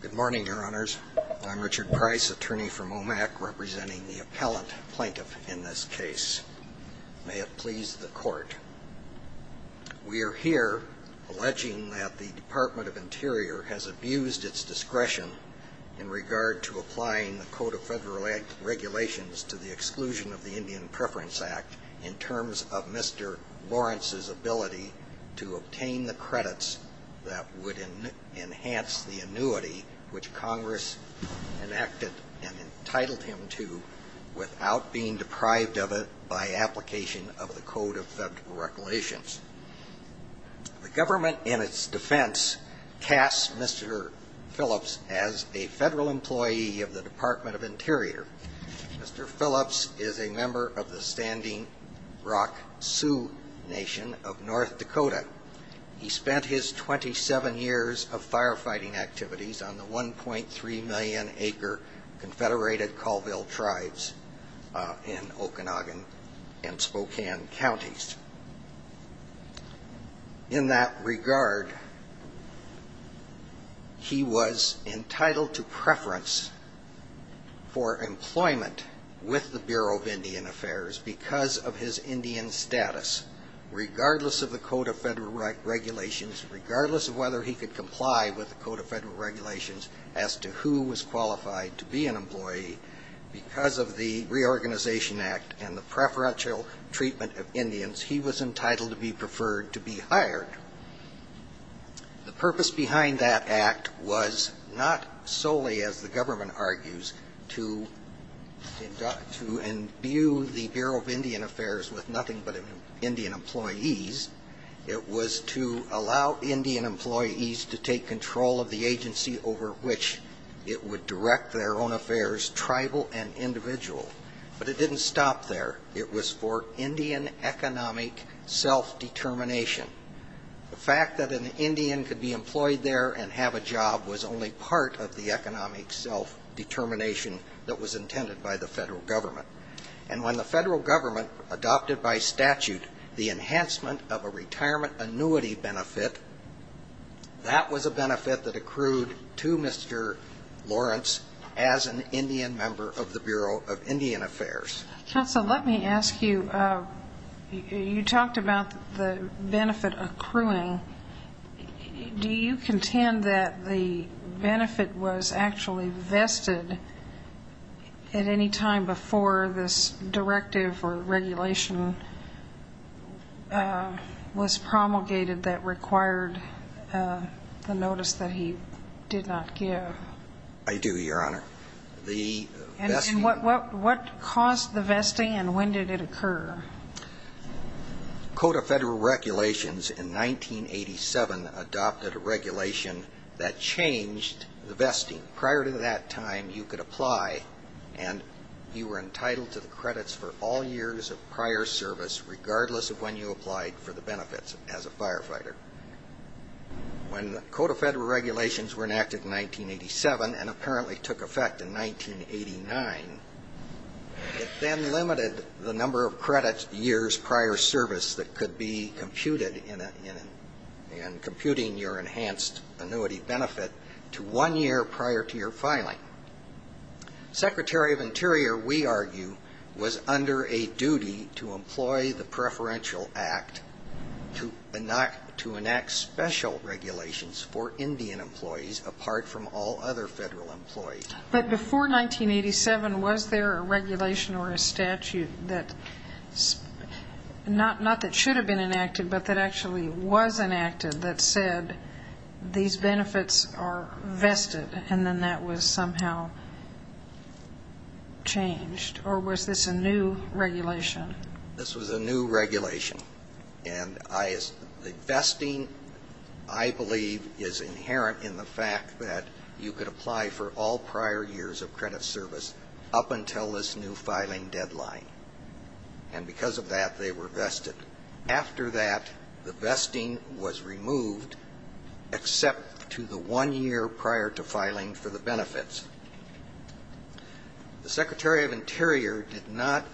Good morning, your honors. I'm Richard Price, attorney from OMAC, representing the appellant plaintiff in this case. May it please the court. We are here alleging that the Department of Interior has abused its discretion in regard to applying the Code of Federal Regulations to the exclusion of the Indian Preference Act in terms of Mr. Lawrence's ability to obtain the credits that would enhance the annuity which Congress enacted and entitled him to without being deprived of it by application of the Code of Federal Regulations. The government, in its defense, casts Mr. Phillips as a federal employee of the Department of Interior. Mr. Phillips is a member of the Standing Rock Sioux Nation of North Dakota. He spent his 27 years of firefighting activities on the 1.3 million acre confederated Colville tribes in Okanagan and Spokane counties. In that regard, he was entitled to preference for employment with the Bureau of Indian Affairs because of his Indian status. Regardless of the Code of Federal Regulations, regardless of whether he could comply with the Code of Federal Regulations as to who was qualified to be an employee, because of the Reorganization Act and the preferential treatment of Indians, he was entitled to be preferred to be hired. The purpose behind that act was not solely, as the government argues, to imbue the Bureau of Indian Affairs with nothing but Indian employees. It was to allow Indian employees to take control of the agency over which it would direct their own affairs, tribal and individual. But it didn't stop there. It was for Indian economic self-determination. The fact that an Indian could be employed there and have a job was only part of the economic self-determination that was intended by the federal government. And when the federal government adopted by statute the enhancement of a retirement annuity benefit, that was a benefit that accrued to Mr. Lawrence as an Indian member of the Bureau of Indian Affairs. Counsel, let me ask you, you talked about the benefit accruing. Do you contend that the benefit was actually vested at any time before this directive or regulation was promulgated that required the notice that he did not give? I do, Your Honor. And what caused the vesting and when did it occur? Code of Federal Regulations in 1987 adopted a regulation that changed the vesting. Prior to that time, you could apply and you were entitled to the credits for all years of prior service, regardless of when you applied for the benefits as a firefighter. When the Code of Federal Regulations were enacted in 1987 and apparently took effect in 1989, it then limited the number of credit years prior service that could be computed in computing your enhanced annuity benefit to one year prior to your filing. Secretary of Interior, we argue, was under a duty to employ the preferential act to enact special regulations for Indian employees apart from all other federal employees. But before 1987, was there a regulation or a statute that, not that should have been enacted, but that actually was enacted that said these benefits are vested and then that was somehow changed? Or was this a new regulation? This was a new regulation. And the vesting, I believe, is inherent in the fact that you could apply for all prior years of credit service up until this new filing deadline. And because of that, they were vested. After that, the vesting was removed except to the one year prior to filing for the benefits. The Secretary of Interior did not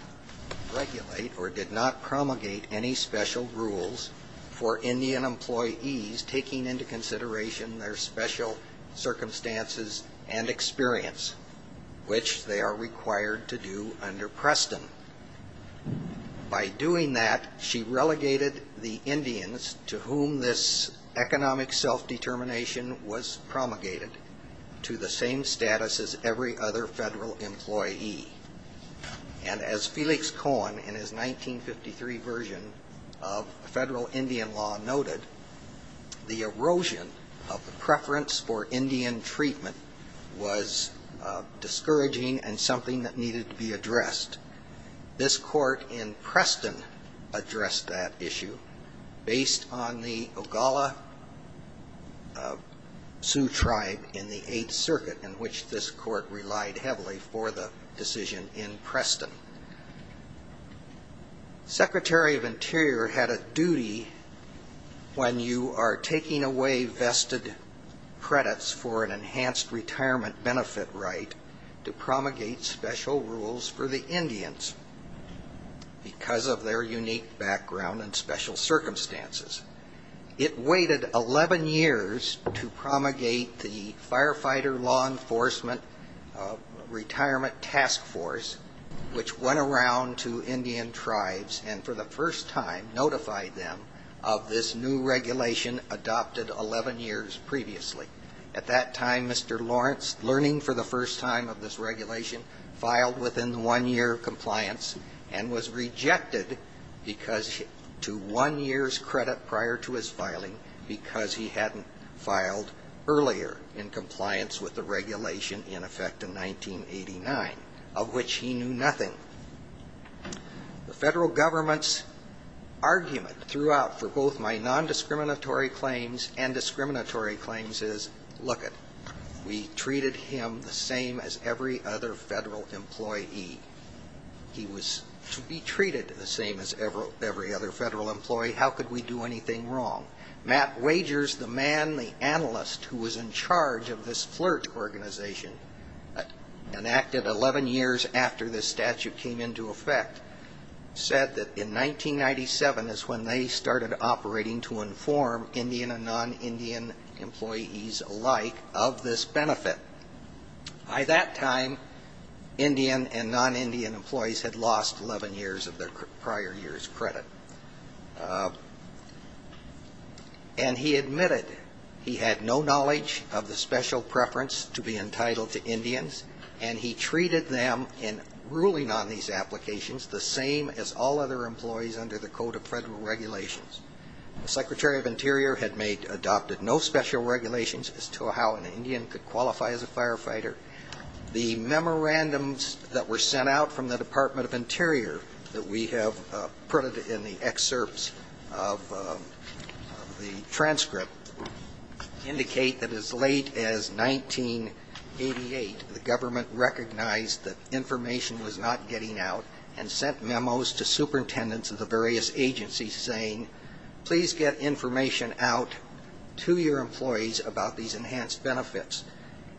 regulate or did not promulgate any special rules for Indian employees taking into consideration their special circumstances and experience, which they are required to do under Preston. By doing that, she relegated the Indians to whom this economic self-determination was promulgated to the same status as every other federal employee. And as Felix Cohen in his 1953 version of federal Indian law noted, the erosion of the preference for Indian treatment was discouraging and something that needed to be addressed. This court in Preston addressed that issue based on the Ogalla Sioux tribe in the Eighth Circuit in which this court relied heavily for the decision in Preston. Secretary of Interior had a duty when you are taking away vested credits for an enhanced retirement benefit right to promulgate special rules for the Indians because of their unique background and special circumstances. It waited 11 years to promulgate the Firefighter Law Enforcement Retirement Task Force, which went around to Indian tribes and for the first time notified them of this new regulation adopted 11 years previously. At that time, Mr. Lawrence, learning for the first time of this regulation, filed within one year of compliance and was rejected to one year's credit prior to his filing because he hadn't filed earlier in compliance with the regulation in effect in 1989, of which he knew nothing. The federal government's argument throughout for both my non-discriminatory claims and discriminatory claims is, look it, we treated him the same as every other federal employee. He was to be treated the same as every other federal employee. How could we do anything wrong? Matt Wagers, the man, the analyst who was in charge of this flirt organization enacted 11 years after this statute came into effect, said that in 1997 is when they started operating to inform Indian and non-Indian employees alike of this benefit. By that time, Indian and non-Indian employees had lost 11 years of their prior year's credit. And he admitted he had no knowledge of the special preference to be entitled to Indians and he treated them in ruling on these applications the same as all other employees under the Code of Federal Regulations. The Secretary of Interior had made, adopted no special regulations as to how an Indian could qualify as a firefighter. The memorandums that were sent out from the Department of Interior that we have printed in the excerpts of the transcript indicate that as late as 1988, the government recognized that information was not getting out and sent memos to superintendents of the various agencies saying, please get information out to your employees about these enhanced benefits.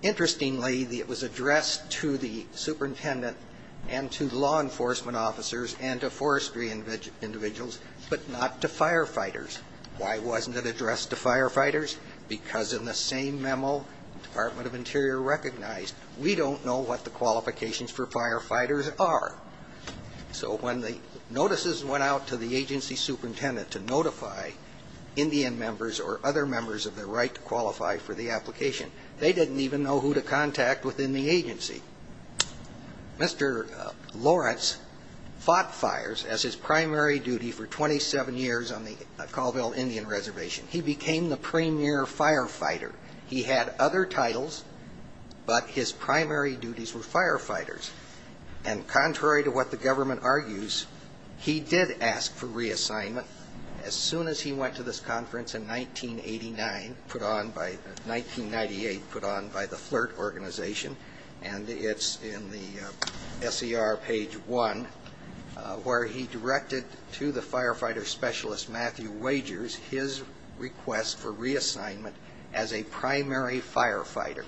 Interestingly, it was addressed to the superintendent and to law enforcement officers and to forestry individuals, but not to firefighters. Why wasn't it addressed to firefighters? Because in the same memo, the Department of Interior recognized, we don't know what the qualifications for firefighters are. So when the notices went out to the agency superintendent to notify Indian members or other members of their right to qualify for the application, they didn't even know who to contact within the agency. Mr. Lawrence fought fires as his primary duty for 27 years on the Colville Indian Reservation. He became the premier firefighter. He had other titles, but his primary duties were firefighters. And contrary to what the government argues, he did ask for reassignment as soon as he went to this conference in 1989, put on by, 1998, put on by the FLIRT organization, and it's in the S.E.R. page one, where he directed to the firefighter specialist, Matthew Wagers, his request for reassignment as a primary firefighter.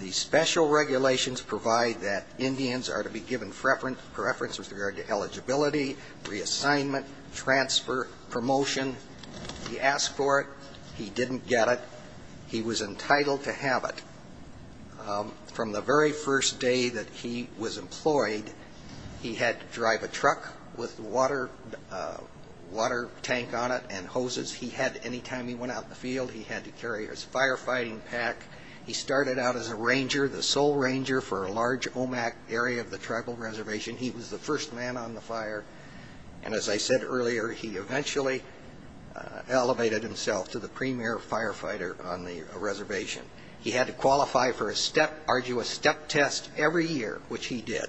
The special regulations provide that Indians are to be given preference with regard to eligibility, reassignment, transfer, promotion. He asked for it. He didn't get it. He was entitled to have it. From the very first day that he was employed, he had to drive a truck with water tank on it and hoses. He had, any time he went out in the field, he had to carry his firefighting pack. He started out as a ranger, the sole ranger for a large OMAC area of the tribal reservation. He was the first man on the fire, and as I said earlier, he eventually elevated himself to the premier firefighter on the reservation. He had to qualify for a step test every year, which he did.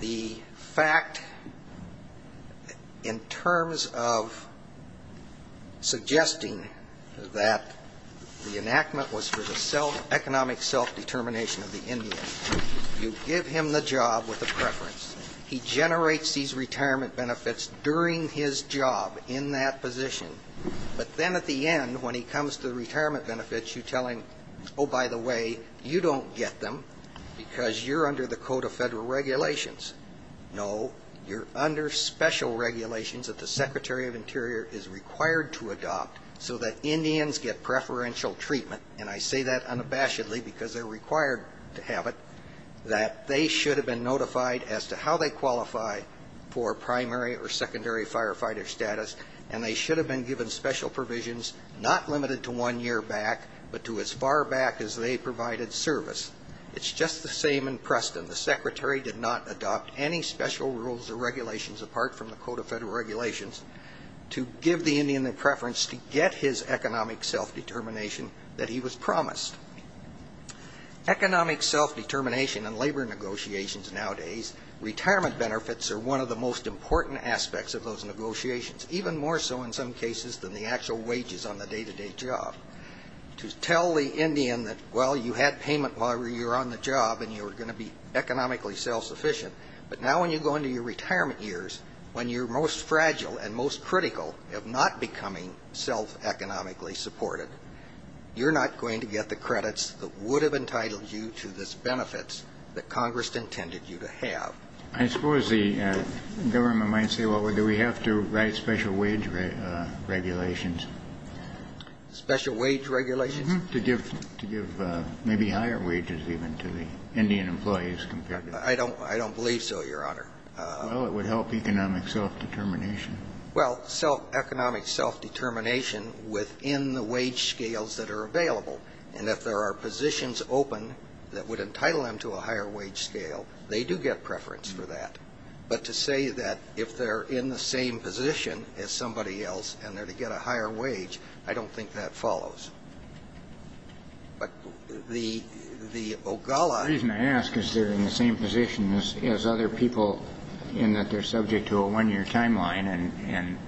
The fact, in terms of suggesting that the enactment was for the economic self-determination of the Indian, you give him the job with a preference. He generates these retirement benefits during his job in that position, but then at the end, when he comes to the retirement benefits, you tell him, oh, by the way, you're not going to hire me. You don't get them because you're under the Code of Federal Regulations. No, you're under special regulations that the Secretary of Interior is required to adopt so that Indians get preferential treatment, and I say that unabashedly because they're required to have it, that they should have been notified as to how they qualify for primary or secondary firefighter status. And they should have been given special provisions not limited to one year back, but to as far back as they provided service. It's just the same in Preston. The Secretary did not adopt any special rules or regulations apart from the Code of Federal Regulations to give the Indian the preference to get his economic self-determination that he was promised. Economic self-determination and labor negotiations nowadays, retirement benefits are one of the most important aspects of those negotiations, even more so in some cases than the actual wages on the day-to-day job. To tell the Indian that, well, you had payment while you were on the job and you were going to be economically self-sufficient, but now when you go into your retirement years, when you're most fragile and most critical of not becoming self-economically supported, you're not going to get the credit you deserve. You're not going to get the credits that would have entitled you to this benefit that Congress intended you to have. I suppose the government might say, well, do we have to write special wage regulations? Special wage regulations? To give maybe higher wages even to the Indian employees compared to the... I don't believe so, Your Honor. Well, it would help economic self-determination. Well, economic self-determination within the wage scales that are available. And if there are positions open that would entitle them to a higher wage scale, they do get preference for that. But to say that if they're in the same position as somebody else and they're to get a higher wage, I don't think that follows. The reason I ask is they're in the same position as other people in that they're subject to a one-year timeline. And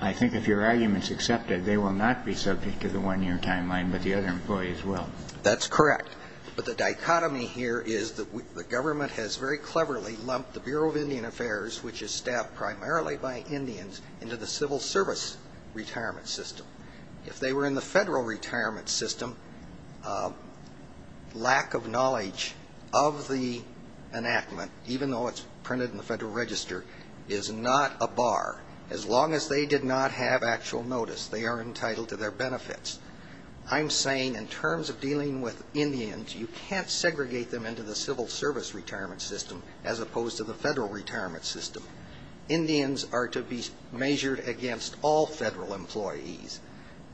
I think if your argument's accepted, they will not be subject to the one-year timeline, but the other employees will. That's correct. But the dichotomy here is the government has very cleverly lumped the Bureau of Indian Affairs, which is staffed primarily by Indians, into the civil service retirement system. If they were in the federal retirement system, lack of knowledge of the enactment, even though it's printed in the Federal Register, is not a bar. As long as they did not have actual notice, they are entitled to their benefits. I'm saying in terms of dealing with Indians, you can't segregate them into the civil service retirement system as opposed to the federal retirement system. Indians are to be measured against all federal employees.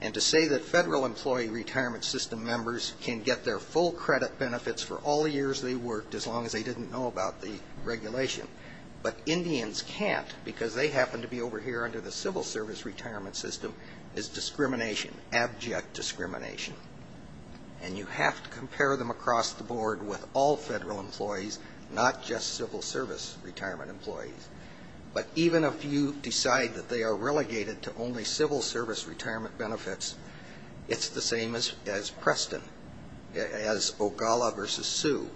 And to say that federal employee retirement system members can get their full credit benefits for all the years they worked as long as they didn't know about the regulation, but Indians can't because they happen to be over here under the civil service retirement system, is discrimination, abject discrimination. And you have to compare them across the board with all federal employees, not just civil service retirement employees. But even if you decide that they are relegated to only civil service retirement benefits, it's the same as Preston, as Ogalla versus Sue.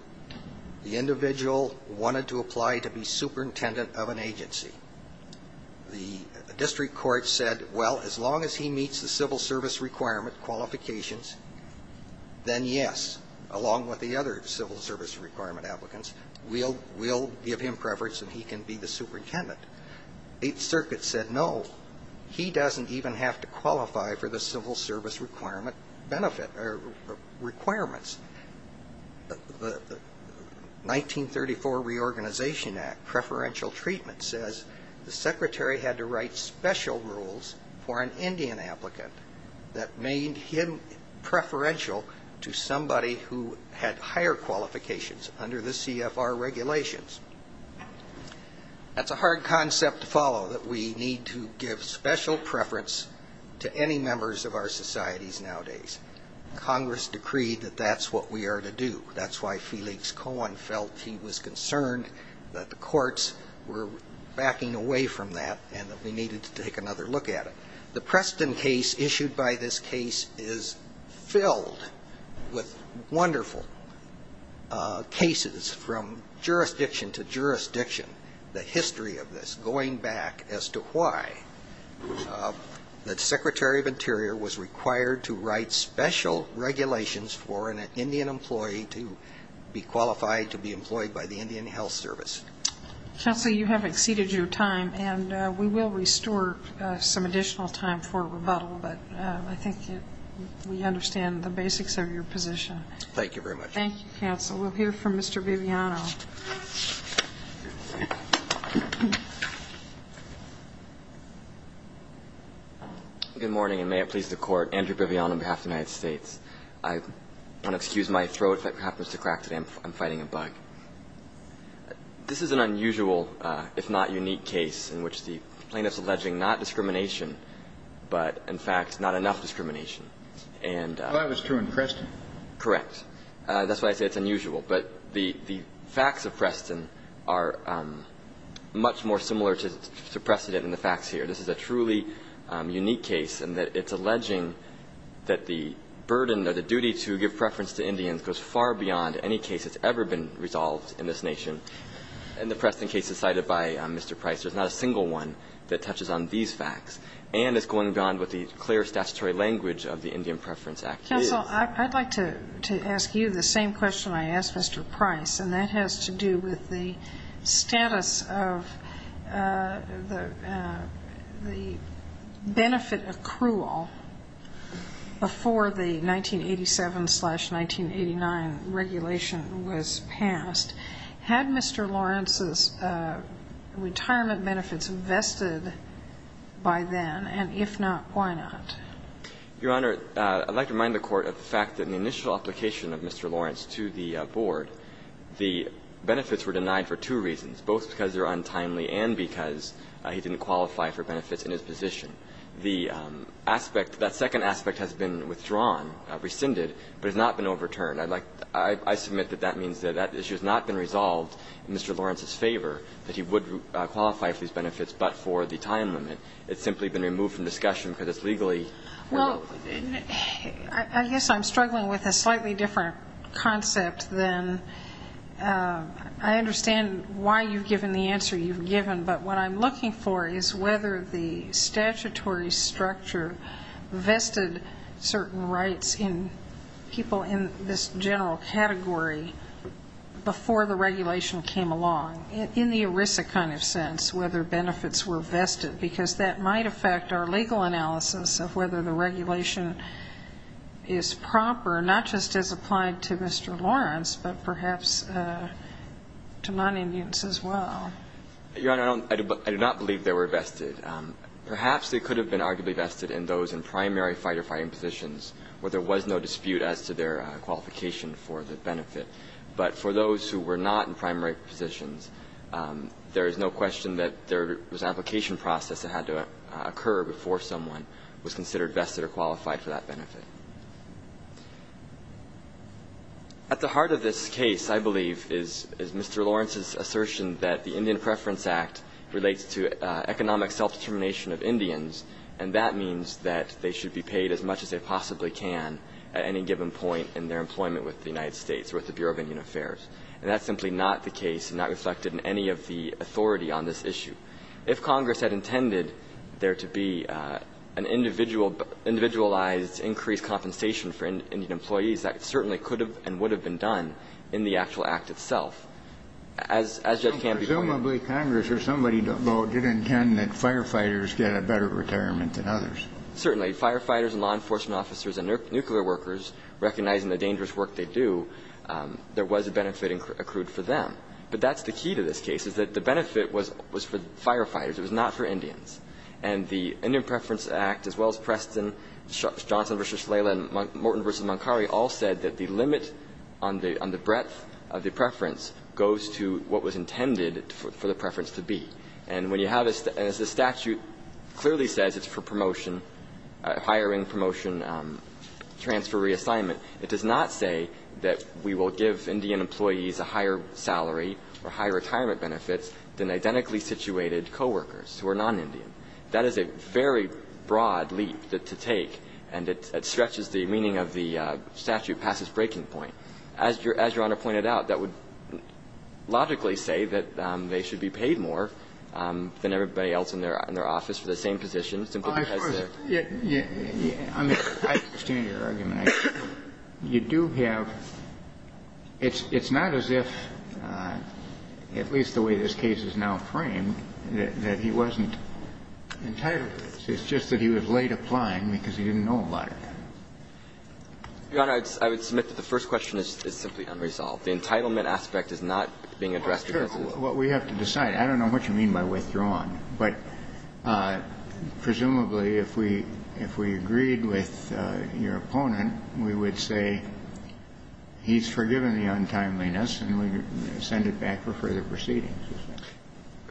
The individual wanted to apply to be superintendent of an agency. The district court said, well, as long as he meets the civil service requirement qualifications, then yes, along with the other civil service requirement applicants, we'll give him preference and he can be the superintendent. The circuit said, no, he doesn't even have to qualify for the civil service requirements. The 1934 Reorganization Act preferential treatment says the secretary had to write special rules for an Indian applicant that made him preferential to somebody who had higher qualifications under the CFR regulations. That's a hard concept to follow, that we need to give special preference to any members of our societies nowadays. Congress decreed that that's what we are to do. That's why Felix Cohen felt he was concerned that the courts were backing away from that and that we needed to take another look at it. The Preston case issued by this case is filled with wonderful cases from jurisdiction to jurisdiction. The history of this going back as to why the Secretary of Interior was required to write special regulations for an Indian employee to be qualified to be employed by the Indian Health Service. Counsel, you have exceeded your time and we will restore some additional time for rebuttal, but I think we understand the basics of your position. Thank you very much. Thank you, counsel. We'll hear from Mr. Biviano. Good morning and may it please the court, Andrew Biviano on behalf of the United States. I want to excuse my throat if it happens to crack today. I'm fighting a bug. This is an unusual, if not unique, case in which the plaintiff is alleging not discrimination, but, in fact, not enough discrimination. Well, that was true in Preston. Correct. That's why I say it's unusual. But the facts of Preston are much more similar to the precedent in the facts here. This is a truly unique case in that it's alleging that the burden or the duty to give preference to Indians goes far beyond any case that's ever been resolved in this nation. And the Preston case is cited by Mr. Price. There's not a single one that touches on these facts and is going beyond what the clear statutory language of the Indian Preference Act is. Counsel, I'd like to ask you the same question I asked Mr. Price. And that has to do with the status of the benefit accrual before the 1987-1989 regulation was passed. Had Mr. Lawrence's retirement benefits vested by then? And if not, why not? Your Honor, I'd like to remind the Court of the fact that in the initial application of Mr. Lawrence to the Board, the benefits were denied for two reasons, both because they were untimely and because he didn't qualify for benefits in his position. The aspect, that second aspect has been withdrawn, rescinded, but has not been overturned. I'd like to – I submit that that means that that issue has not been resolved in Mr. Lawrence's favor, that he would qualify for these benefits but for the time limit. It's simply been removed from discussion because it's legally removed. Well, I guess I'm struggling with a slightly different concept than – I understand why you've given the answer you've given, but what I'm looking for is whether the statutory structure vested certain rights in people in this general category before the regulation came along, in the ERISA kind of sense, whether benefits were vested, because that might affect our legal analysis of whether the regulation is proper, not just as applied to Mr. Lawrence, but perhaps to non-Indians as well. Your Honor, I don't – I do not believe they were vested. Perhaps they could have been arguably vested in those in primary fight-or-fighting positions where there was no dispute as to their qualification for the benefit. But for those who were not in primary positions, there is no question that there was an application process that had to occur before someone was considered vested or qualified for that benefit. At the heart of this case, I believe, is Mr. Lawrence's assertion that the Indian Preference Act relates to economic self-determination of Indians, and that means that they should be paid as much as they possibly can at any given point in their employment with the United States, with the Bureau of Indian Affairs. And that's simply not the case and not reflected in any of the authority on this issue. If Congress had intended there to be an individualized increased compensation for Indian employees, that certainly could have and would have been done in the actual act itself. As Judge Canby pointed out – So presumably Congress or somebody did intend that firefighters get a better retirement than others. Certainly. Firefighters and law enforcement officers and nuclear workers, recognizing the dangerous work they do, there was a benefit accrued for them. But that's the key to this case, is that the benefit was for firefighters. It was not for Indians. And the Indian Preference Act, as well as Preston, Johnson v. Shlala, and Morton v. Moncari, all said that the limit on the breadth of the preference goes to what was intended for the preference to be. And when you have a statute that clearly says it's for promotion, hiring, promotion, transfer, reassignment, it does not say that we will give Indian employees a higher salary or higher retirement benefits than identically situated co-workers who are non-Indian. That is a very broad leap to take, and it stretches the meaning of the statute past its breaking point. As Your Honor pointed out, that would logically say that they should be paid more than everybody else in their office for the same position, simply because they're I understand your argument. You do have – it's not as if, at least the way this case is now framed, that he wasn't entitled to this. It's just that he was late applying because he didn't know a lot of it. Your Honor, I would submit that the first question is simply unresolved. The entitlement aspect is not being addressed because of the law. Well, that's what we have to decide. I don't know what you mean by withdrawn. But presumably, if we agreed with your opponent, we would say he's forgiven the untimeliness and we would send it back for further proceedings.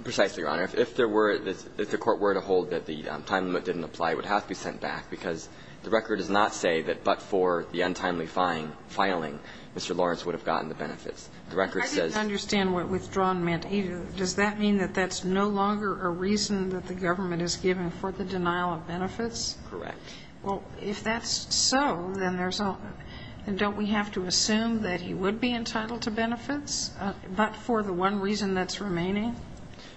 Precisely, Your Honor. If there were – if the Court were to hold that the time limit didn't apply, it would have to be sent back, because the record does not say that but for the untimely filing, Mr. Lawrence would have gotten the benefits. The record says – Well, if that's so, then there's – and don't we have to assume that he would be entitled to benefits but for the one reason that's remaining?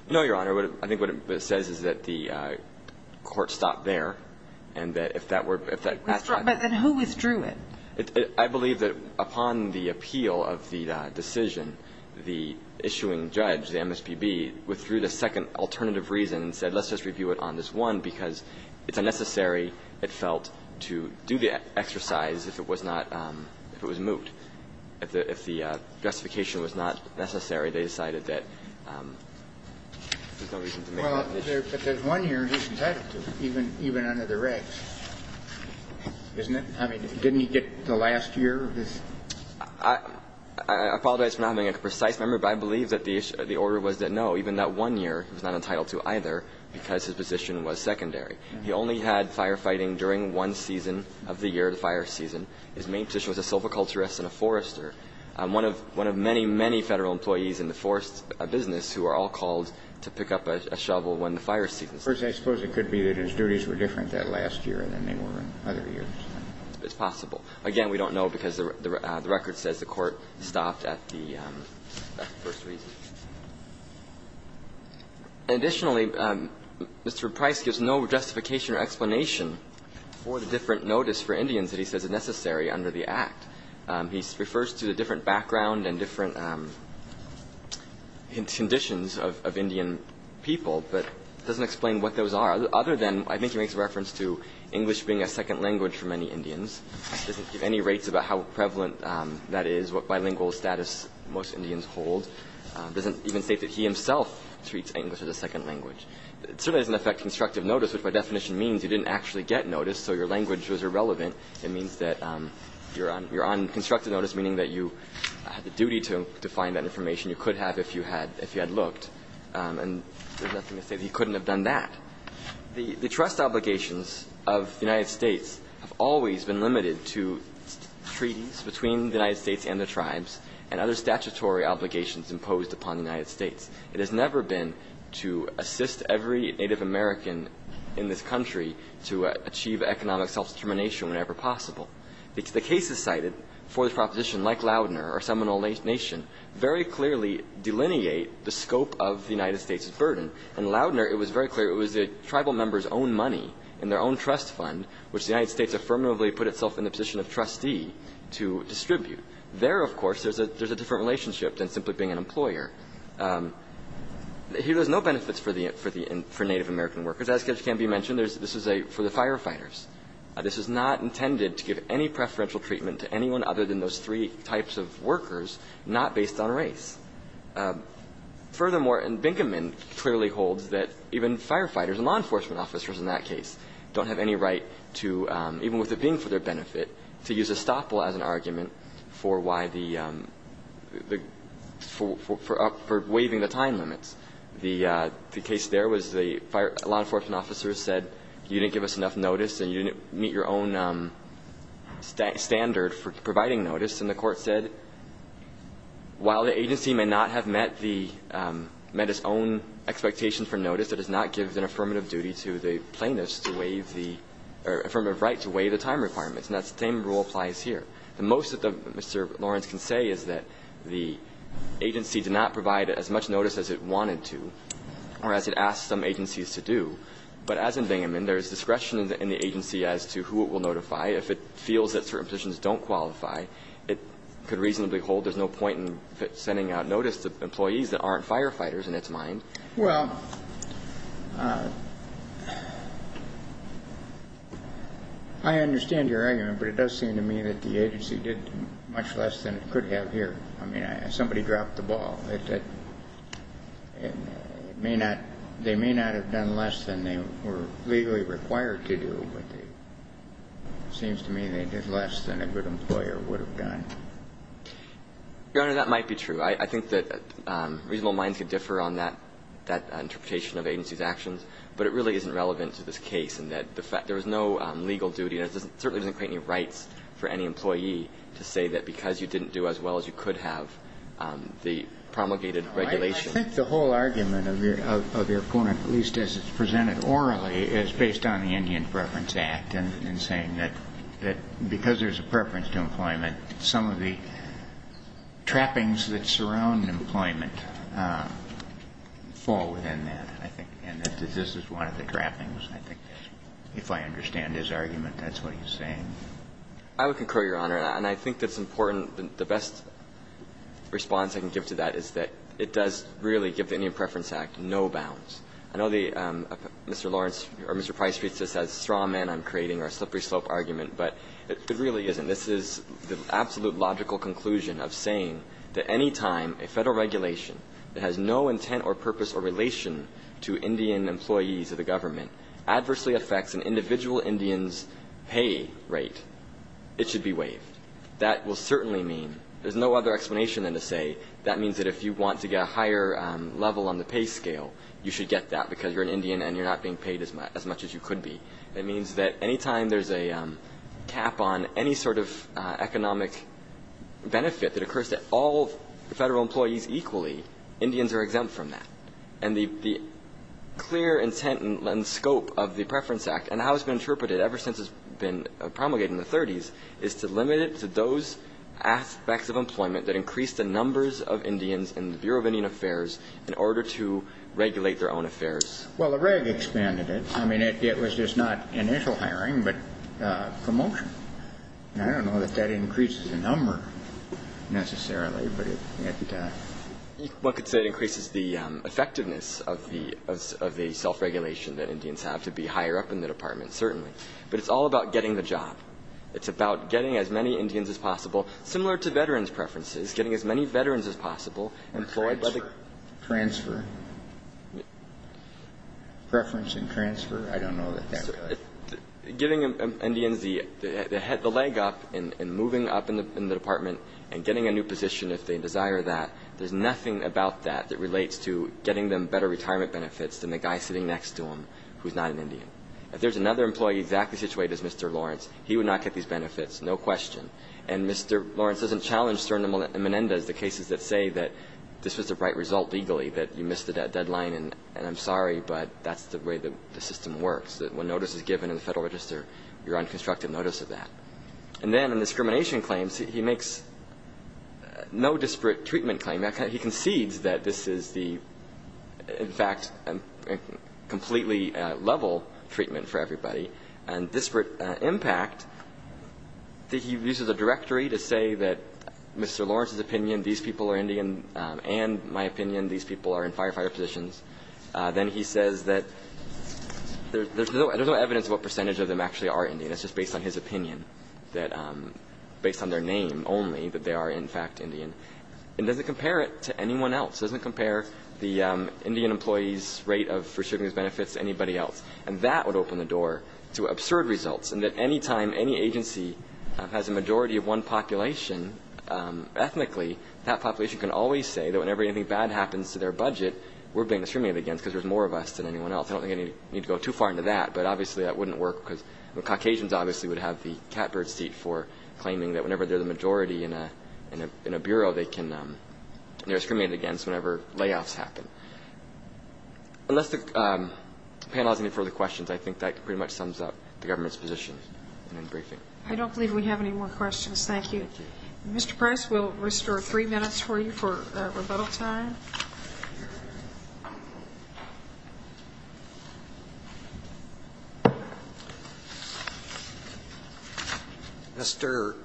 No, Your Honor. I think what it says is that the Court stopped there, and that if that were – if that – But then who withdrew it? I believe that upon the appeal of the decision, the issuing judge, the MSPB, withdrew the second alternative reason and said, let's just review it on this one because it's unnecessary, it felt, to do the exercise if it was not – if it was moot. If the justification was not necessary, they decided that there's no reason to make that decision. Well, if there's one year, he's entitled to it, even under the regs, isn't it? I mean, didn't he get the last year of this? I apologize for not being a precise member, but I believe that the order was that he was entitled to one year. I don't know. Even that one year, he was not entitled to either because his position was secondary. He only had firefighting during one season of the year, the fire season. His main position was a silviculturist and a forester. One of many, many Federal employees in the forest business who are all called to pick up a shovel when the fire season starts. First, I suppose it could be that his duties were different that last year than they were in other years. It's possible. Again, we don't know because the record says the court stopped at the first reason. Additionally, Mr. Price gives no justification or explanation for the different notice for Indians that he says is necessary under the Act. He refers to the different background and different conditions of Indian people, but doesn't explain what those are, other than I think he makes reference to English being a second language for many Indians. He doesn't give any rates about how prevalent that is, what bilingual status most Indians hold, doesn't even state that he himself treats English as a second language. It certainly doesn't affect constructive notice, which by definition means you didn't actually get notice, so your language was irrelevant. It means that you're on constructive notice, meaning that you had the duty to find that information you could have if you had looked. And there's nothing to say that he couldn't have done that. The trust obligations of the United States have always been limited to treaties between the United States and the tribes and other statutory obligations imposed upon the United States. It has never been to assist every Native American in this country to achieve economic self-determination whenever possible. The cases cited for the proposition, like Loudner or Seminole Nation, very clearly delineate the scope of the United States' burden. In Loudner, it was very clear it was the tribal members' own money and their own trust fund, which the United States affirmatively put itself in the position of trustee to distribute. There, of course, there's a different relationship than simply being an employer. Here, there's no benefits for Native American workers. As can be mentioned, this is for the firefighters. This is not intended to give any preferential treatment to anyone other than those three types of workers, not based on race. Furthermore, and Binkerman clearly holds that even firefighters and law enforcement officers in that case don't have any right to, even with it being for their benefit, to use estoppel as an argument for why the – for waiving the time limits. The case there was the law enforcement officer said, you didn't give us enough notice and you didn't meet your own standard for providing notice. And the court said, while the agency may not have met the – met its own expectation for notice, it does not give an affirmative duty to the plaintiff to waive the – or affirmative right to waive the time requirements. And that same rule applies here. The most that Mr. Lawrence can say is that the agency did not provide as much notice as it wanted to or as it asked some agencies to do. But as in Binkerman, there is discretion in the agency as to who it will notify. If it feels that certain positions don't qualify, it could reasonably hold. There's no point in sending out notice to employees that aren't firefighters in its mind. Well, I understand your argument, but it does seem to me that the agency did much less than it could have here. I mean, somebody dropped the ball. It may not – they may not have done less than they were legally required to do, but they – it seems to me they did less than a good employer would have done. Your Honor, that might be true. I think that reasonable minds could differ on that – that interpretation of agency's actions. But it really isn't relevant to this case in that the – there was no legal duty and it certainly doesn't create any rights for any employee to say that because you didn't do as well as you could have, the promulgated regulation – I think the whole argument of your – of your point, at least as it's presented orally, is based on the Indian Preference Act and saying that because there's a preference to employment, some of the trappings that surround employment fall within that, I think, and that this is one of the trappings, I think. If I understand his argument, that's what he's saying. I would concur, Your Honor, and I think that's important. The best response I can give to that is that it does really give the Indian Preference Act no bounds. I know the – Mr. Lawrence or Mr. Price treats this as straw man I'm creating or a slippery slope argument, but it really isn't. This is the absolute logical conclusion of saying that any time a federal regulation that has no intent or purpose or relation to Indian employees of the government adversely affects an individual Indian's pay rate, it should be waived. That will certainly mean – there's no other explanation than to say that means that if you want to get a higher level on the pay scale, you should get that because you're an Indian and you're not being paid as much as you could be. It means that any time there's a cap on any sort of economic benefit that occurs to all federal employees equally, Indians are exempt from that. And the clear intent and scope of the Preference Act and how it's been interpreted ever since it's been promulgated in the 30s is to limit it to those aspects of employment that increase the numbers of Indians in the Bureau of Indian Affairs in order to regulate their own affairs. Well, the reg expanded it. I mean, it was just not initial hiring, but promotion. And I don't know that that increases the number necessarily, but it – One could say it increases the effectiveness of the self-regulation that Indians have to be higher up in the department, certainly. But it's all about getting the job. It's about getting as many Indians as possible, similar to veterans' preferences, getting as many veterans as possible employed by the – Transfer. Preference and transfer, I don't know that that would – Giving Indians the leg up in moving up in the department and getting a new position if they desire that, there's nothing about that that relates to getting them better retirement benefits than the guy sitting next to them who's not an Indian. If there's another employee exactly situated as Mr. Lawrence, he would not get these benefits, no question. And Mr. Lawrence doesn't challenge stern and menendez, the cases that say that this was the right result legally, that you missed the deadline, and I'm sorry, but that's the way the system works, that when notice is given in the Federal Register, you're on constructive notice of that. And then in discrimination claims, he makes no disparate treatment claim. He concedes that this is the, in fact, completely level treatment for everybody. And disparate impact, he uses a directory to say that Mr. Lawrence's opinion, these people are Indian, and my opinion, these people are in firefighter positions. Then he says that there's no evidence of what percentage of them actually are Indian. It's just based on his opinion, based on their name only, that they are in fact Indian. And it doesn't compare it to anyone else. It doesn't compare the Indian employees' rate of receiving these benefits to anybody else. And that would open the door to absurd results, and that any time any agency has a majority of one population, ethnically that population can always say that whenever anything bad happens to their budget, we're being discriminated against because there's more of us than anyone else. I don't think I need to go too far into that, but obviously that wouldn't work because the Caucasians obviously would have the catbird seat for claiming that whenever they're the majority in a bureau, they're discriminated against whenever layoffs happen. Unless the panel has any further questions, I think that pretty much sums up the government's position in the briefing. I don't believe we have any more questions. Thank you. Thank you. Mr. Price, we'll restore three minutes for you for rebuttal time. Mr.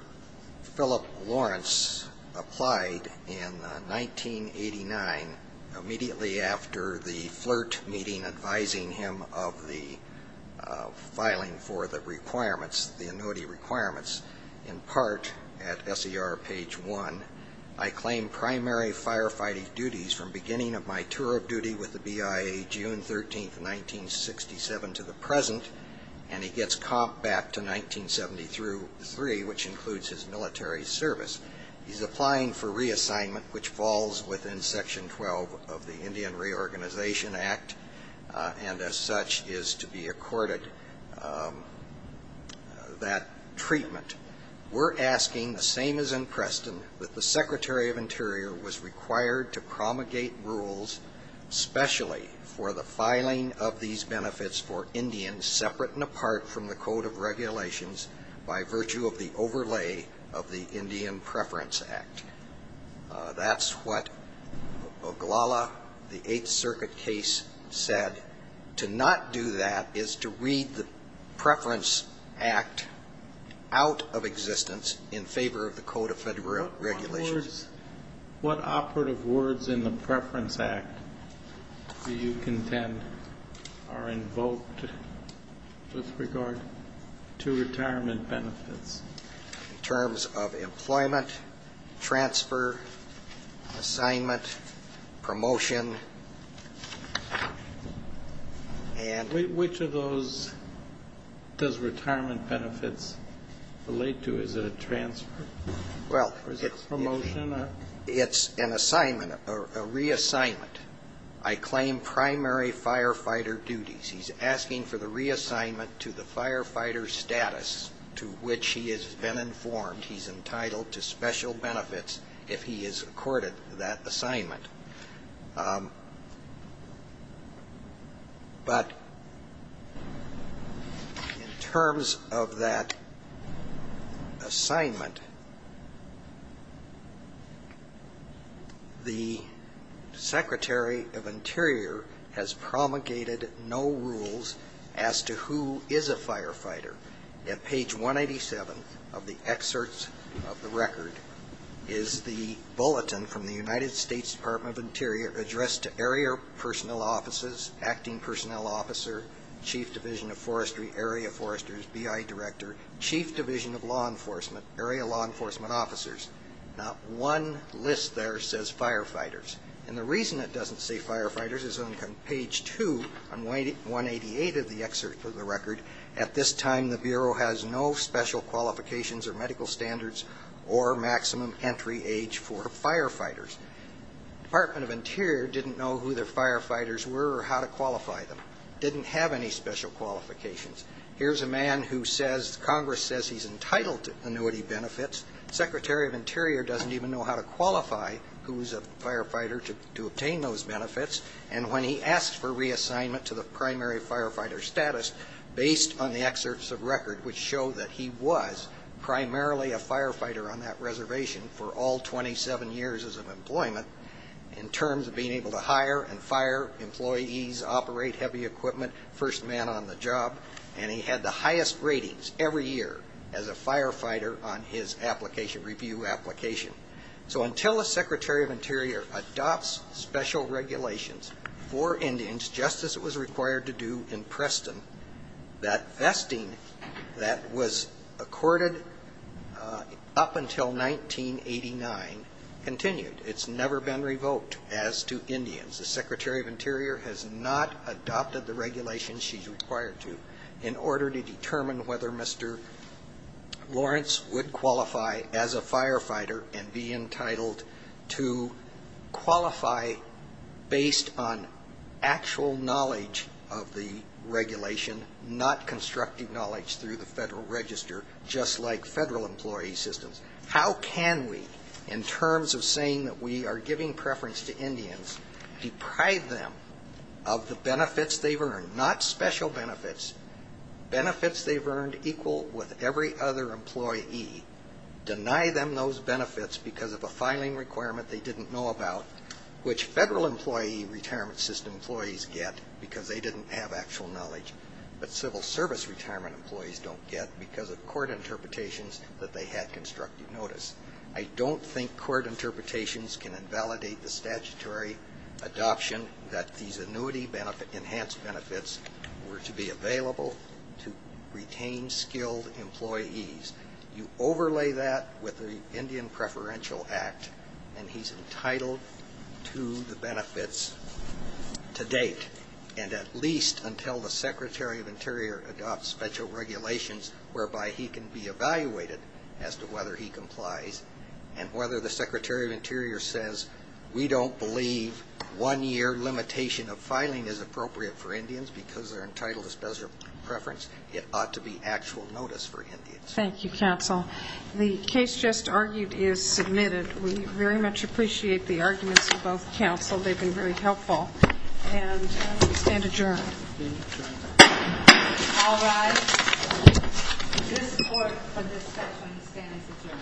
Philip Lawrence applied in 1989, immediately after the FLIRT meeting advising him of the filing for the requirements, the annuity requirements, in part at SER page one. I claim primary firefighting duties from beginning of my tour of duty with the BIA, June 13, 1967 to the present, and he gets comp back to 1970 through three, which includes his military service. He's applying for reassignment, which falls within section 12 of the Indian Reorganization Act, and as such is to be accorded that treatment. We're asking the same as in Preston, that the Secretary of Interior was required to promulgate rules specially for the filing of these benefits for Indians separate and apart from the Code of Regulations by virtue of the overlay of the Indian Preference Act. That's what Oglala, the Eighth Circuit case, said. To not do that is to read the Preference Act out of existence in favor of the Code of Federal Regulations. What operative words in the Preference Act do you contend are invoked with regard to retirement benefits? In terms of employment, transfer, assignment, promotion. Which of those does retirement benefits relate to? Is it a transfer or is it a promotion? It's an assignment, a reassignment. I claim primary firefighter duties. He's asking for the reassignment to the firefighter status to which he has been informed he's entitled to special benefits if he is accorded that assignment. But in terms of that assignment, the Secretary of Interior has promulgated no rules as to who is a firefighter. At page 187 of the excerpts of the record is the bulletin from the United States Department of Interior addressed to area personnel offices, acting personnel officer, chief division of forestry, area foresters, B.I. director, chief division of law enforcement, area law enforcement officers. Not one list there says firefighters. And the reason it doesn't say firefighters is on page 2 on 188 of the excerpt of the record, at this time the Bureau has no special qualifications or medical standards or maximum entry age for firefighters. Department of Interior didn't know who their firefighters were or how to qualify them. Didn't have any special qualifications. Here's a man who says Congress says he's entitled to annuity benefits. Secretary of Interior doesn't even know how to qualify who's a firefighter to obtain those benefits. And when he asks for reassignment to the primary firefighter status, based on the excerpts of record, which show that he was primarily a firefighter on that reservation for all 27 years of employment, in terms of being able to hire and fire employees, operate heavy equipment, first man on the job, and he had the highest ratings every year as a firefighter on his application, review application. So until a Secretary of Interior adopts special regulations for Indians, just as it was required to do in Preston, that vesting that was accorded up until 1989 continued. It's never been revoked as to Indians. The Secretary of Interior has not adopted the regulations she's required to in order to determine whether Mr. Lawrence would qualify as a firefighter and be entitled to qualify based on actual knowledge of the regulation, not constructive knowledge through the Federal Register, just like Federal employee systems. How can we, in terms of saying that we are giving preference to Indians, deprive them of the benefits they've earned, not special benefits, benefits they've earned equal with every other employee, deny them those benefits because of a filing requirement they didn't know about, which Federal employee retirement system employees get because they didn't have actual knowledge, but civil service retirement employees don't get because of court interpretations that they had constructive notice. I don't think court interpretations can invalidate the statutory adoption that these annuity enhanced benefits were to be available to retain skilled employees. You overlay that with the Indian Preferential Act, and he's entitled to the benefits to date, and at least until the Secretary of Interior adopts special regulations whereby he can be evaluated as to whether he complies and whether the Secretary of Interior says, we don't believe one-year limitation of filing is appropriate for Indians because they're entitled to special preference. It ought to be actual notice for Indians. Thank you, counsel. The case just argued is submitted. We very much appreciate the arguments of both counsel. They've been very helpful. And we stand adjourned. All rise. This court for discussion stands adjourned. Thank you.